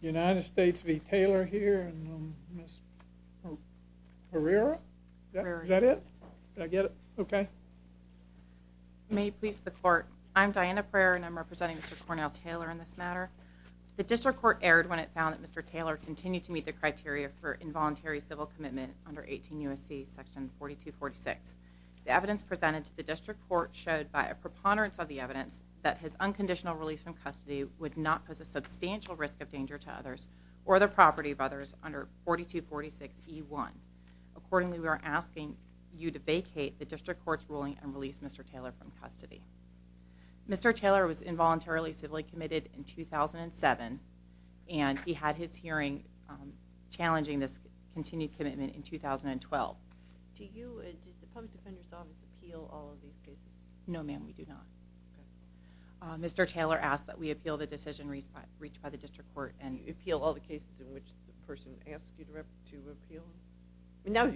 United States v. Taylor here and Ms. Herrera, is that it? Did I get it? Okay. May it please the court. I'm Diana Herrera and I'm representing Mr. Cornell Taylor in this matter. The district court erred when it found that Mr. Taylor continued to meet the criteria for involuntary civil commitment under 18 U.S.C. section 4246. The evidence presented to the district court showed by a preponderance of the evidence that his unconditional release from custody would not pose a substantial risk of danger to others or the property of others under 4246E1. Accordingly, we are asking you to vacate the district court's ruling and release Mr. Taylor from custody. Mr. Taylor was involuntarily civilly committed in 2007 and he had his hearing challenging this continued commitment in 2012. Do you and the public defender's office appeal all of these cases? No ma'am, we do not. Mr. Taylor asked that we appeal the decision reached by the district court. Do you appeal all the cases in which the person asked you to appeal? No.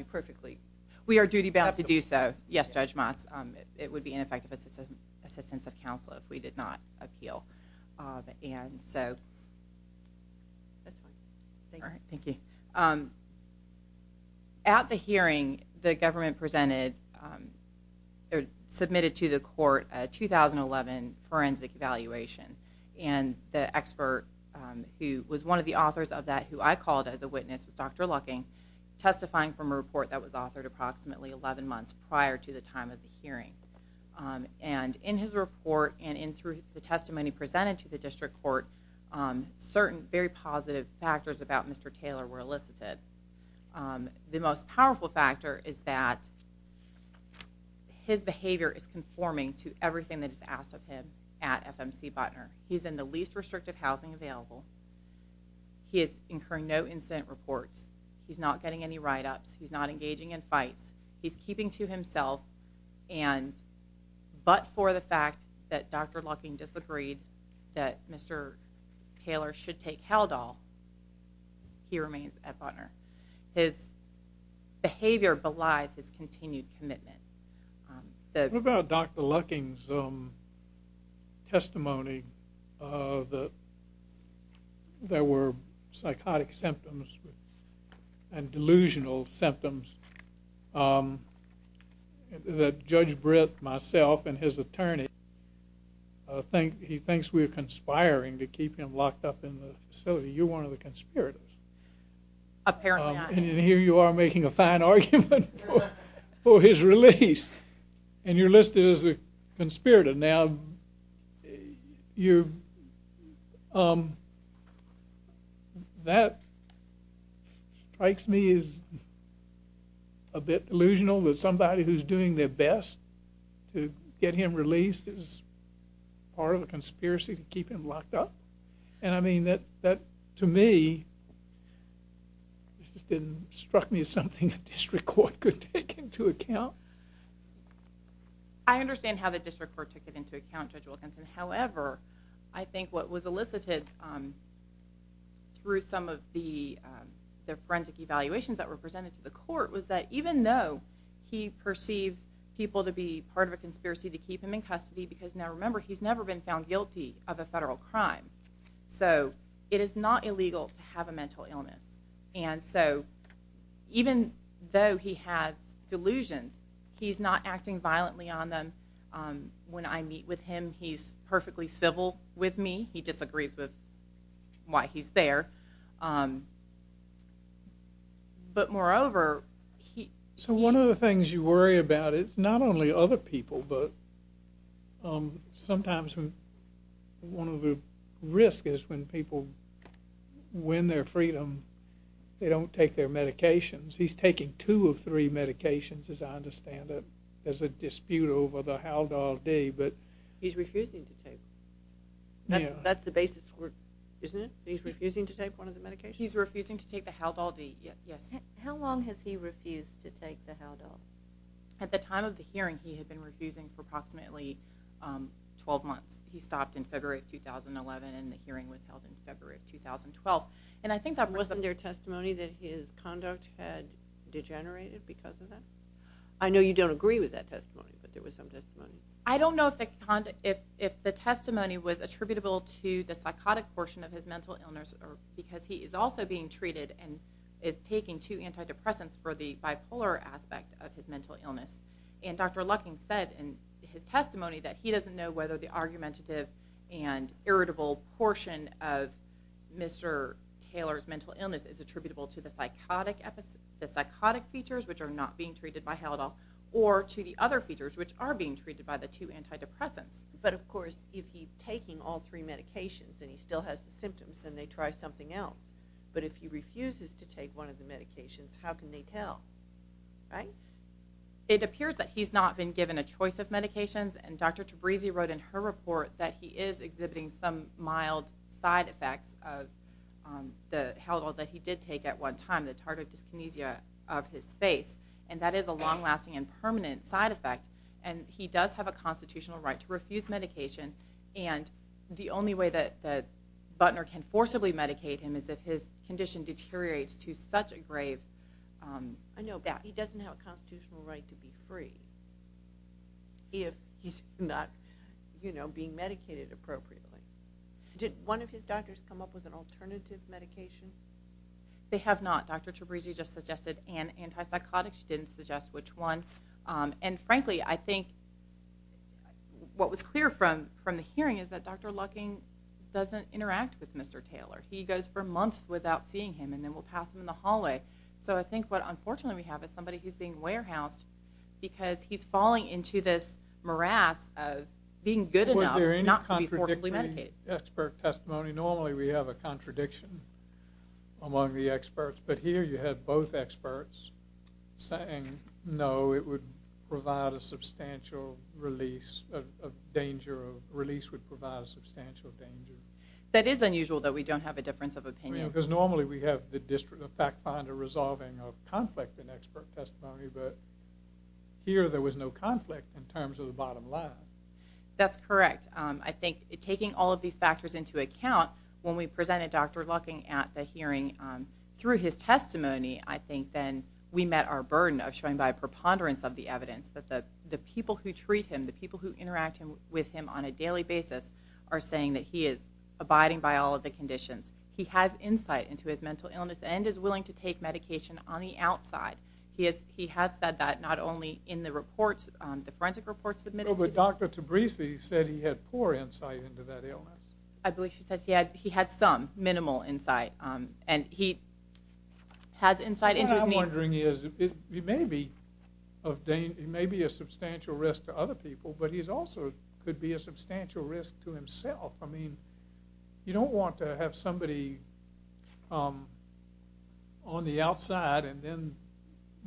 We are duty bound to do so. Yes, Judge Moss. It would be ineffective assistance of counsel if we did not appeal. At the hearing, the government submitted to the court a 2011 forensic evaluation. The expert who was one of the authors of that, who I called as a witness, was Dr. Lucking, testifying from a report that was authored approximately 11 months prior to the time of the hearing. And in his report and through the testimony presented to the district court, certain very positive factors about Mr. Taylor were elicited. The most powerful factor is that his behavior is conforming to everything that is asked of him at FMC Botner. He's in the least restrictive housing available. He is incurring no incident reports. He's not getting any write-ups. He's not engaging in fights. He's keeping to himself, but for the fact that Dr. Lucking disagreed that Mr. Taylor should take Haldol, he remains at Botner. His behavior belies his continued commitment. What about Dr. Lucking's testimony that there were psychotic symptoms and delusional symptoms that Judge Britt, myself, and his attorney, he thinks we're conspiring to keep him locked up in the facility. You're one of the conspirators. Apparently I am. And here you are making a fine argument for his release. And you're listed as a conspirator. Now, that strikes me as a bit delusional that somebody who's doing their best to get him released is part of a conspiracy to keep him locked up. And, I mean, that, to me, struck me as something a district court could take into account. I understand how the district court took it into account, Judge Wilkinson. However, I think what was elicited through some of the forensic evaluations that were presented to the court was that even though he perceives people to be part of a conspiracy to keep him in custody because, now remember, he's never been found guilty of a federal crime. So, it is not illegal to have a mental illness. And so, even though he has delusions, he's not acting violently on them. When I meet with him, he's perfectly civil with me. He disagrees with why he's there. But, moreover, he... So, one of the things you worry about is not only other people, but sometimes one of the risks is when people win their freedom, they don't take their medications. He's taking two of three medications, as I understand it. There's a dispute over the Haldol-D, but... He's refusing to take. That's the basis, isn't it? He's refusing to take one of the medications? He's refusing to take the Haldol-D, yes. How long has he refused to take the Haldol? At the time of the hearing, he had been refusing for approximately 12 months. He stopped in February of 2011, and the hearing was held in February of 2012. And I think that was... Wasn't there testimony that his conduct had degenerated because of that? I know you don't agree with that testimony, but there was some testimony. I don't know if the testimony was attributable to the psychotic portion of his mental illness because he is also being treated and is taking two antidepressants for the bipolar aspect of his mental illness. And Dr. Lucking said in his testimony that he doesn't know whether the argumentative and irritable portion of Mr. Taylor's mental illness is attributable to the psychotic features, which are not being treated by Haldol, or to the other features, which are being treated by the two antidepressants. But, of course, if he's taking all three medications and he still has the symptoms, then they try something else. But if he refuses to take one of the medications, how can they tell, right? It appears that he's not been given a choice of medications, and Dr. Tabrizi wrote in her report that he is exhibiting some mild side effects of the Haldol that he did take at one time, the tardive dyskinesia of his face, and that is a long-lasting and permanent side effect. And he does have a constitutional right to refuse medication, and the only way that Butner can forcibly medicate him is if his condition deteriorates to such a grave that he doesn't have a constitutional right to be free if he's not being medicated appropriately. Did one of his doctors come up with an alternative medication? They have not. Dr. Tabrizi just suggested an antipsychotic. She didn't suggest which one. And frankly, I think what was clear from the hearing is that Dr. Lucking doesn't interact with Mr. Taylor. He goes for months without seeing him, and then we'll pass him in the hallway. So I think what unfortunately we have is somebody who's being warehoused because he's falling into this morass of being good enough not to be forcibly medicated. Was there any contradictory expert testimony? Normally we have a contradiction among the experts, but here you have both experts saying, no, it would provide a substantial release of danger. A release would provide a substantial danger. That is unusual that we don't have a difference of opinion. Because normally we have the District of Fact Finder resolving a conflict in expert testimony, but here there was no conflict in terms of the bottom line. That's correct. I think taking all of these factors into account, when we presented Dr. Lucking at the hearing, through his testimony I think then we met our burden of showing by a preponderance of the evidence that the people who treat him, the people who interact with him on a daily basis, are saying that he is abiding by all of the conditions. He has insight into his mental illness and is willing to take medication on the outside. He has said that not only in the reports, the forensic reports submitted to him. But Dr. Tabrisi said he had poor insight into that illness. I believe she said he had some minimal insight. And he has insight into his mental illness. What I'm wondering is, he may be a substantial risk to other people, but he also could be a substantial risk to himself. I mean, you don't want to have somebody on the outside and then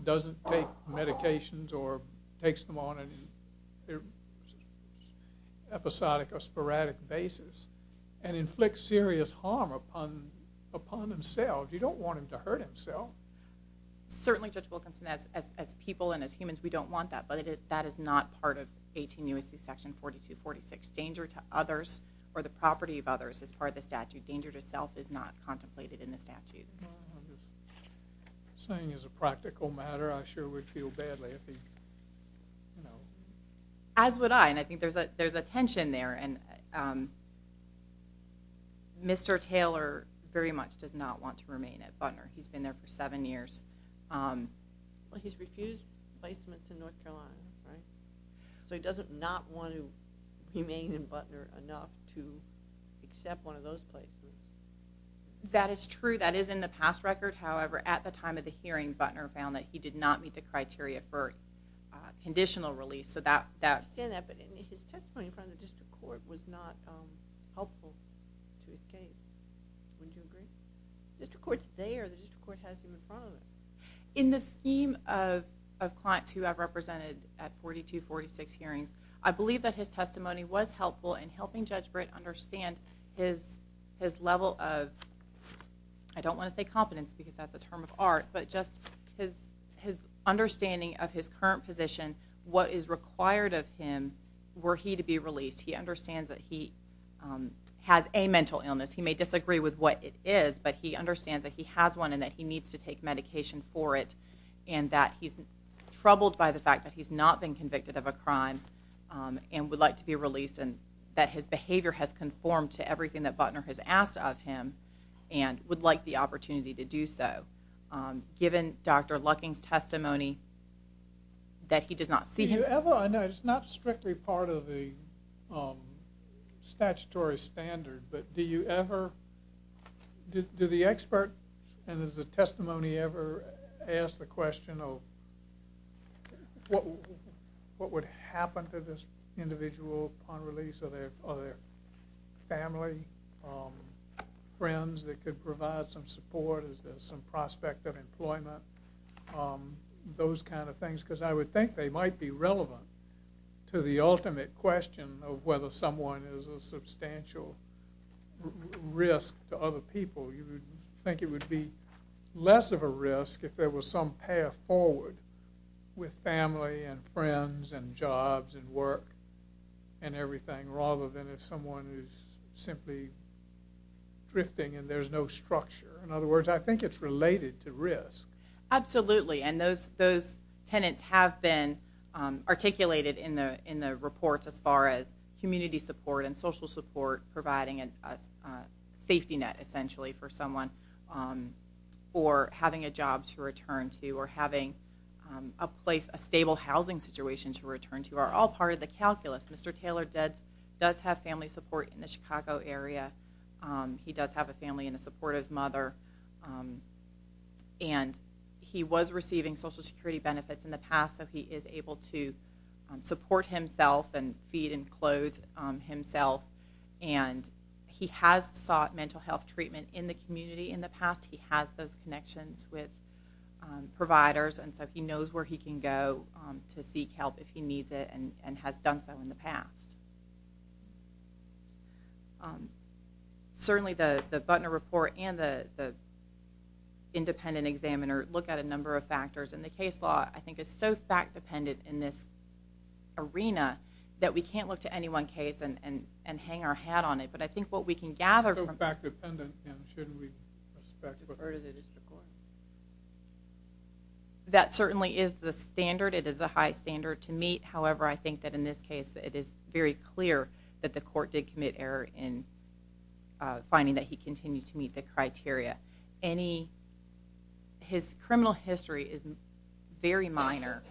doesn't take medications or takes them on an episodic or sporadic basis and inflicts serious harm upon himself. You don't want him to hurt himself. Certainly, Judge Wilkinson, as people and as humans, we don't want that. But that is not part of 18 U.S.C. section 4246. Danger to others or the property of others is part of the statute. Danger to self is not contemplated in the statute. I'm just saying as a practical matter, I sure would feel badly if he, you know. As would I, and I think there's a tension there. And Mr. Taylor very much does not want to remain at Butner. He's been there for seven years. Well, he's refused placement to North Carolina, right? So he does not want to remain in Butner enough to accept one of those places. That is true. That is in the past record. However, at the time of the hearing, Butner found that he did not meet the criteria for conditional release. I understand that, but his testimony in front of the district court was not helpful to his case. Wouldn't you agree? The district court's there. The district court has him in front of it. In the scheme of clients who I've represented at 42, 46 hearings, I believe that his testimony was helpful in helping Judge Britt understand his level of, I don't want to say competence because that's a term of art, but just his understanding of his current position, what is required of him were he to be released. He understands that he has a mental illness. He may disagree with what it is, but he understands that he has one and that he needs to take medication for it and that he's troubled by the fact that he's not been convicted of a crime and would like to be released and that his behavior has conformed to everything that Butner has asked of him and would like the opportunity to do so. Given Dr. Lucking's testimony that he does not see him. I know it's not strictly part of the statutory standard, but do you ever, do the expert, and has the testimony ever asked the question of what would happen to this individual upon release? Are there family, friends that could provide some support? Is there some prospect of employment? Those kind of things, because I would think they might be relevant to the ultimate question of whether someone is a substantial risk to other people. You would think it would be less of a risk if there was some path forward with family and friends and jobs and work and everything rather than if someone is simply drifting and there's no structure. In other words, I think it's related to risk. Absolutely, and those tenants have been articulated in the reports as far as community support and social support providing a safety net essentially for someone or having a job to return to or having a stable housing situation to return to are all part of the calculus. Mr. Taylor does have family support in the Chicago area. He does have a family and a supportive mother. And he was receiving Social Security benefits in the past, so he is able to support himself and feed and clothe himself. And he has sought mental health treatment in the community in the past. He has those connections with providers, and so he knows where he can go to seek help if he needs it and has done so in the past. Certainly, the Butner report and the independent examiner look at a number of factors, and the case law I think is so fact-dependent in this arena that we can't look to any one case and hang our hat on it. But I think what we can gather from it... So fact-dependent, and shouldn't we respect what part of it is the court? That certainly is the standard. It is a high standard to meet. However, I think that in this case it is very clear that the court did commit error in finding that he continued to meet the criteria. His criminal history is very minor.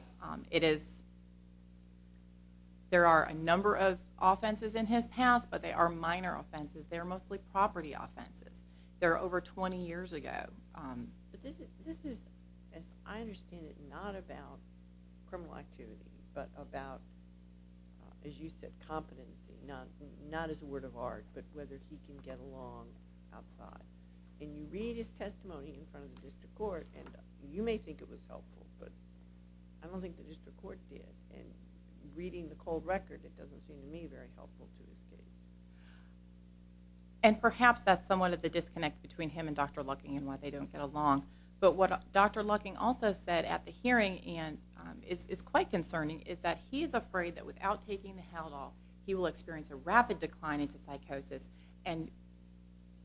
There are a number of offenses in his past, but they are minor offenses. They're mostly property offenses. They're over 20 years ago. But this is, as I understand it, not about criminal activity, but about, as you said, competency, not as a word of art, but whether he can get along outside. And you read his testimony in front of the district court, and you may think it was helpful, but I don't think the district court did. And reading the cold record, it doesn't seem to me very helpful to the city. And perhaps that's somewhat of the disconnect between him and Dr. Lucking and why they don't get along. But what Dr. Lucking also said at the hearing and is quite concerning is that he is afraid that without taking the Haldol, he will experience a rapid decline into psychosis and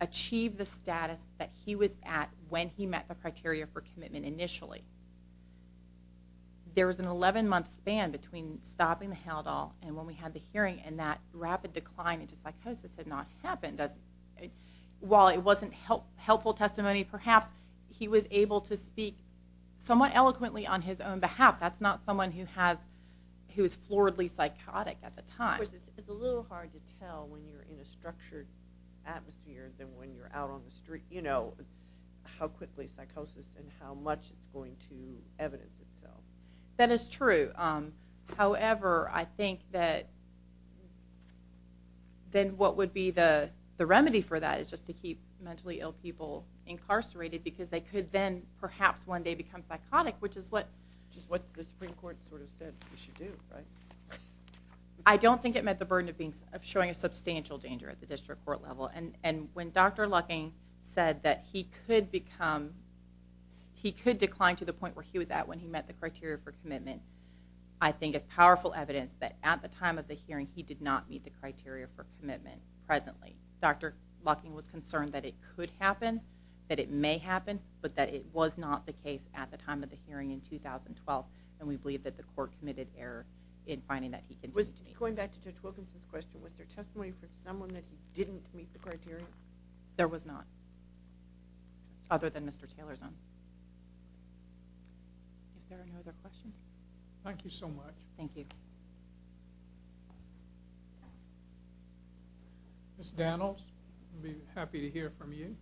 achieve the status that he was at when he met the criteria for commitment initially. There was an 11-month span between stopping the Haldol and when we had the hearing, and that rapid decline into psychosis had not happened. While it wasn't helpful testimony perhaps, he was able to speak somewhat eloquently on his own behalf. That's not someone who was floridly psychotic at the time. Of course, it's a little hard to tell when you're in a structured atmosphere than when you're out on the street how quickly psychosis and how much it's going to evidence itself. That is true. However, I think that then what would be the remedy for that is just to keep mentally ill people incarcerated because they could then perhaps one day become psychotic, which is what the Supreme Court sort of said they should do, right? I don't think it met the burden of showing a substantial danger at the district court level. And when Dr. Lucking said that he could decline to the point where he was at when he met the criteria for commitment, I think it's powerful evidence that at the time of the hearing he did not meet the criteria for commitment presently. Dr. Lucking was concerned that it could happen, that it may happen, but that it was not the case at the time of the hearing in 2012, and we believe that the court committed error in finding that he could decline. Going back to Judge Wilkinson's question, was there testimony from someone that he didn't meet the criteria? There was not, other than Mr. Taylor's own. Is there any other questions? Thank you so much. Thank you. Ms. Danels, we'd be happy to hear from you.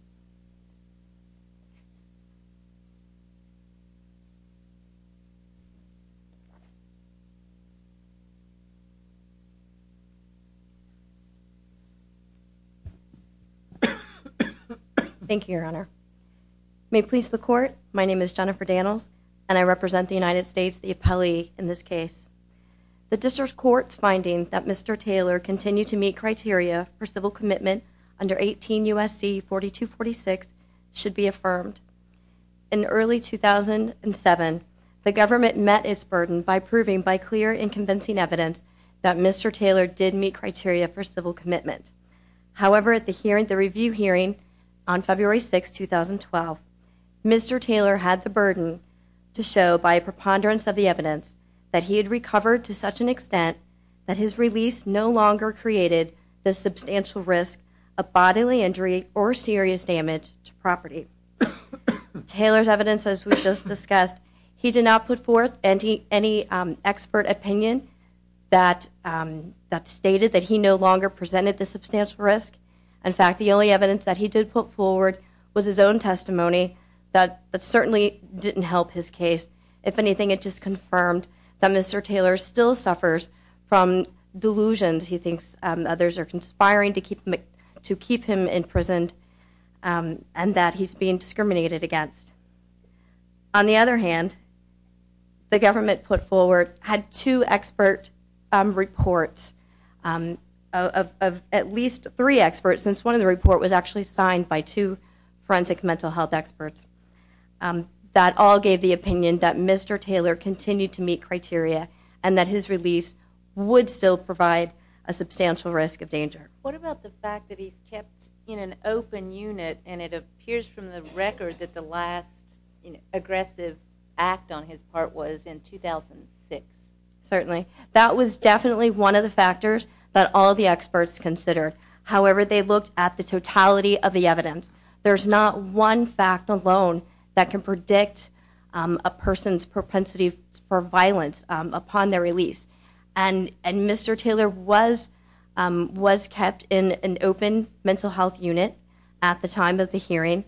Thank you, Your Honor. May it please the court, my name is Jennifer Danels and I represent the United States, the appellee in this case. The district court's finding that Mr. Taylor continued to meet criteria for civil commitment under 18 U.S.C. 4246 should be affirmed. In early 2007, the government met its burden by proving by clear and convincing evidence that Mr. Taylor did meet criteria for civil commitment. However, at the review hearing on February 6, 2012, Mr. Taylor had the burden to show by a preponderance of the evidence that he had recovered to such an extent that his release no longer created the substantial risk of bodily injury or serious damage to property. Taylor's evidence, as we just discussed, he did not put forth any expert opinion that stated that he no longer presented the substantial risk. In fact, the only evidence that he did put forward was his own testimony that certainly didn't help his case. If anything, it just confirmed that Mr. Taylor still suffers from delusions. He thinks others are conspiring to keep him imprisoned and that he's being discriminated against. On the other hand, the government put forward, had two expert reports of at least three experts, since one of the reports was actually signed by two forensic mental health experts. That all gave the opinion that Mr. Taylor continued to meet criteria and that his release would still provide a substantial risk of danger. What about the fact that he's kept in an open unit and it appears from the record that the last aggressive act on his part was in 2006? Certainly. That was definitely one of the factors that all the experts considered. However, they looked at the totality of the evidence. There's not one fact alone that can predict a person's propensity for violence upon their release. And Mr. Taylor was kept in an open mental health unit at the time of the hearing.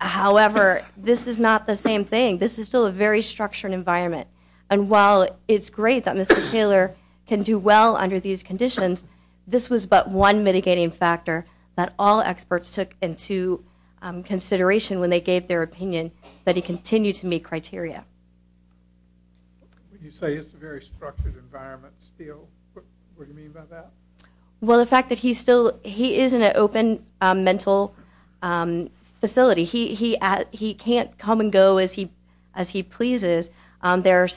However, this is not the same thing. This is still a very structured environment. And while it's great that Mr. Taylor can do well under these conditions, this was but one mitigating factor that all experts took into consideration when they gave their opinion that he continued to meet criteria. You say it's a very structured environment still. What do you mean by that? Well, the fact that he is in an open mental facility. He can't come and go as he pleases. There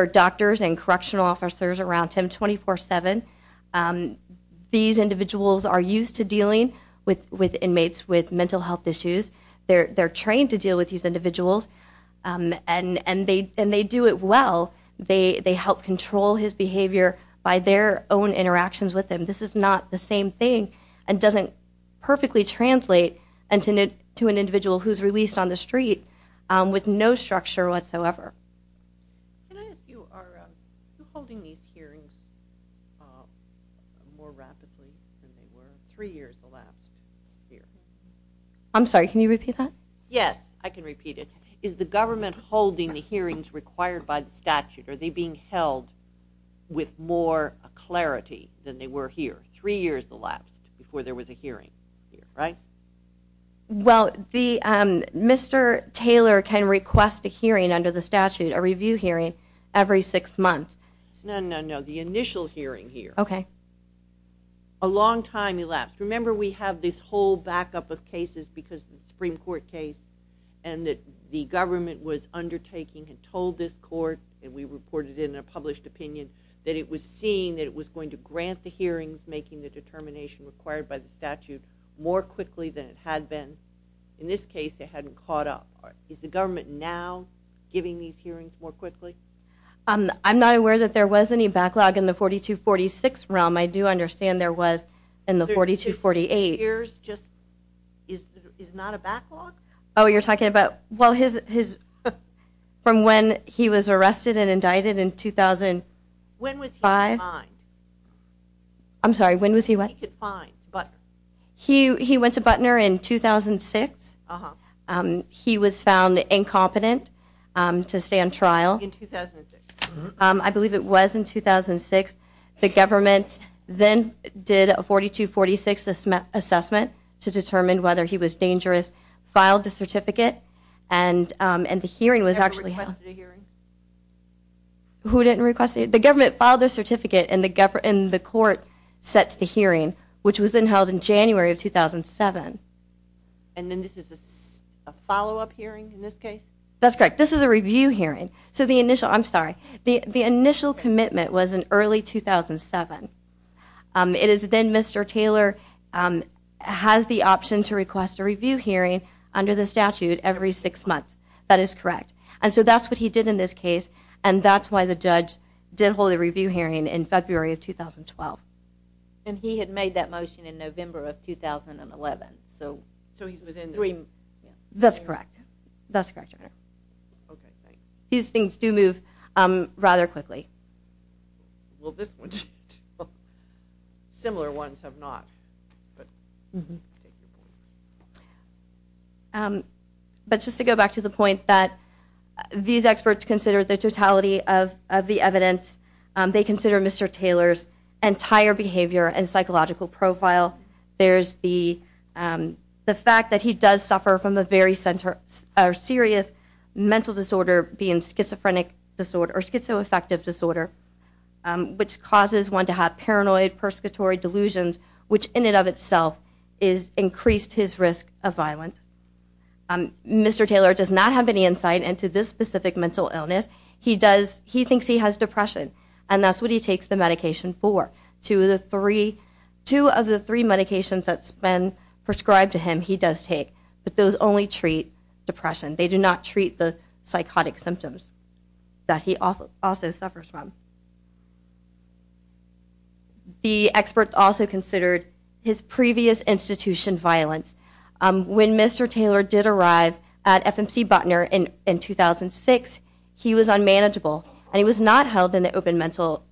are doctors and correctional officers around him 24-7. These individuals are used to dealing with inmates with mental health issues. They're trained to deal with these individuals, and they do it well. They help control his behavior by their own interactions with him. This is not the same thing and doesn't perfectly translate to an individual who's released on the street with no structure whatsoever. Can I ask you, are you holding these hearings more rapidly than they were three years elapsed here? I'm sorry, can you repeat that? Yes, I can repeat it. Is the government holding the hearings required by the statute? Are they being held with more clarity than they were here three years elapsed before there was a hearing here, right? Well, Mr. Taylor can request a hearing under the statute, a review hearing, every six months. No, no, no, the initial hearing here. Okay. A long time elapsed. Remember we have this whole backup of cases because of the Supreme Court case and that the government was undertaking and told this court, and we reported it in a published opinion, that it was seeing that it was going to grant the hearings, making the determination required by the statute, more quickly than it had been. In this case, it hadn't caught up. Is the government now giving these hearings more quickly? I'm not aware that there was any backlog in the 4246 realm. I do understand there was in the 4248. Three years just is not a backlog? Oh, you're talking about, well, from when he was arrested and indicted in 2005? When was he fined? I'm sorry, when was he what? He went to Butner in 2006. He was found incompetent to stay on trial. In 2006. I believe it was in 2006. The government then did a 4246 assessment to determine whether he was dangerous, filed a certificate, and the hearing was actually held. Who didn't request a hearing? Who didn't request a hearing? The government filed their certificate, and the court set the hearing, which was then held in January of 2007. And then this is a follow-up hearing in this case? That's correct. This is a review hearing. I'm sorry. The initial commitment was in early 2007. It is then Mr. Taylor has the option to request a review hearing under the statute every six months. That is correct. And so that's what he did in this case, and that's why the judge did hold a review hearing in February of 2012. And he had made that motion in November of 2011. So he was in the green? That's correct. That's correct, Your Honor. Okay, thanks. These things do move rather quickly. Well, this one, too. Similar ones have not. But just to go back to the point that these experts consider the totality of the evidence, they consider Mr. Taylor's entire behavior and psychological profile. There's the fact that he does suffer from a very serious mental disorder, being schizophrenic disorder or schizoaffective disorder, which causes one to have paranoid, persecutory delusions, which in and of itself has increased his risk of violence. Mr. Taylor does not have any insight into this specific mental illness. He thinks he has depression, and that's what he takes the medication for. Two of the three medications that's been prescribed to him he does take, but those only treat depression. They do not treat the psychotic symptoms that he also suffers from. The experts also considered his previous institution violence. When Mr. Taylor did arrive at FMC Botner in 2006, he was unmanageable, and he was not held in the open mental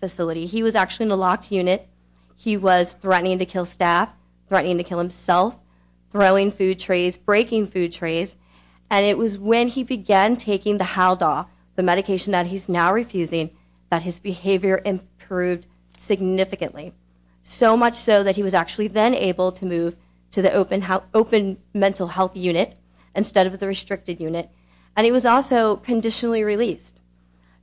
facility. He was actually in a locked unit. He was threatening to kill staff, threatening to kill himself, throwing food trays, breaking food trays, and it was when he began taking the Haldol, the medication that he's now refusing, that his behavior improved significantly, so much so that he was actually then able to move to the open mental health unit instead of the restricted unit, and he was also conditionally released.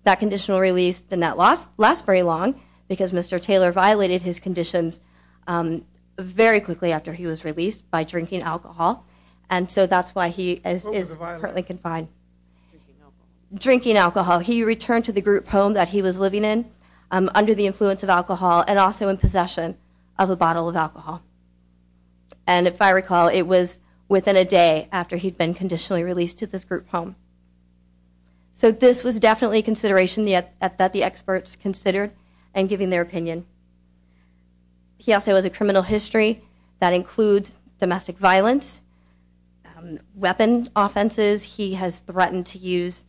That conditional release did not last very long because Mr. Taylor violated his conditions very quickly after he was released by drinking alcohol, and so that's why he is currently confined. Drinking alcohol. He returned to the group home that he was living in under the influence of alcohol and also in possession of a bottle of alcohol, and if I recall, it was within a day after he'd been conditionally released to this group home. So this was definitely a consideration that the experts considered in giving their opinion. He also has a criminal history that includes domestic violence, weapon offenses. He has threatened to use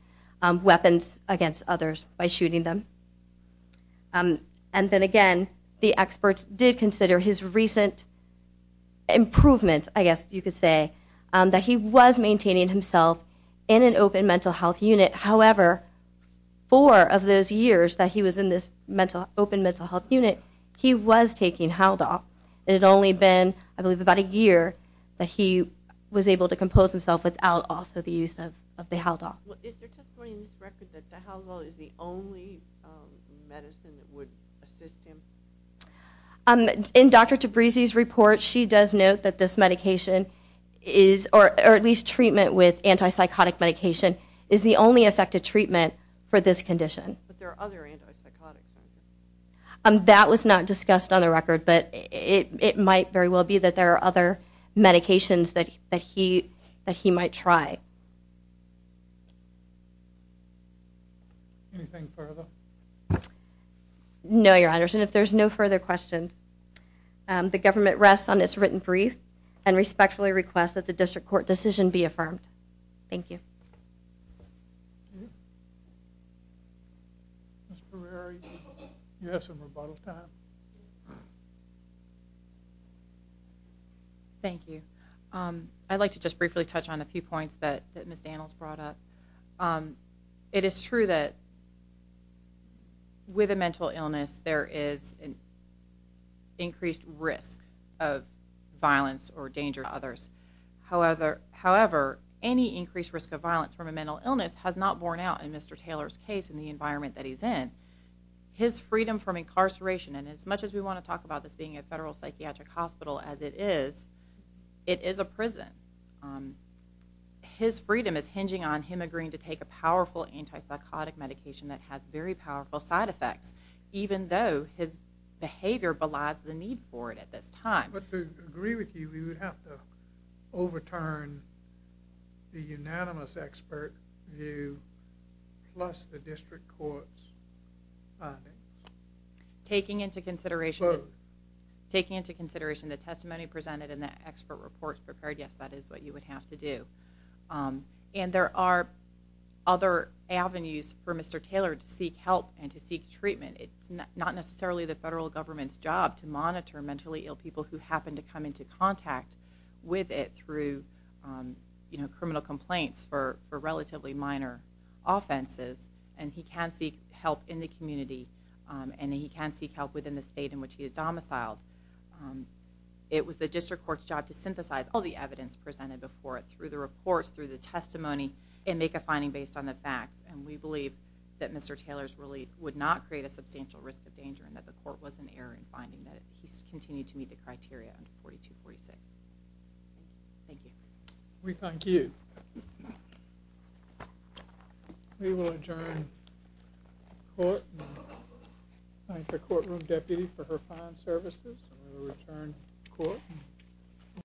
weapons against others by shooting them, and then again, the experts did consider his recent improvement, I guess you could say, that he was maintaining himself in an open mental health unit. However, four of those years that he was in this open mental health unit, he was taking Haldol. It had only been, I believe, about a year that he was able to compose himself without also the use of the Haldol. Is there testimony in this record that the Haldol is the only medicine that would assist him? In Dr. Tabrizi's report, she does note that this medication is, or at least treatment with antipsychotic medication, is the only effective treatment for this condition. But there are other antipsychotics. That was not discussed on the record, but it might very well be that there are other medications that he might try. Anything further? No, Your Honors, and if there's no further questions, the government rests on its written brief and respectfully requests that the district court decision be affirmed. Thank you. Ms. Brary, you have some rebuttal time. Thank you. I'd like to just briefly touch on a few points that Ms. Danels brought up. It is true that with a mental illness, there is an increased risk of violence or danger to others. However, any increased risk of violence from a mental illness has not borne out in Mr. Taylor's case in the environment that he's in. His freedom from incarceration, and as much as we want to talk about this being a federal psychiatric hospital as it is, it is a prison. His freedom is hinging on him agreeing to take a powerful antipsychotic medication that has very powerful side effects, even though his behavior belies the need for it at this time. But to agree with you, we would have to overturn the unanimous expert view plus the district court's finding. Taking into consideration the testimony presented and the expert report prepared, yes, that is what you would have to do. And there are other avenues for Mr. Taylor to seek help and to seek treatment. It's not necessarily the federal government's job to monitor mentally ill people who happen to come into contact with it through criminal complaints for relatively minor offenses, and he can seek help in the community and he can seek help within the state in which he is domiciled. It was the district court's job to synthesize all the evidence presented before it through the reports, through the testimony, and make a finding based on the facts. And we believe that Mr. Taylor's release would not create a substantial risk of danger and that the court was in error in finding that. He's continued to meet the criteria under 4246. Thank you. We thank you. We will adjourn court. I thank the courtroom deputy for her fine services. We will return court.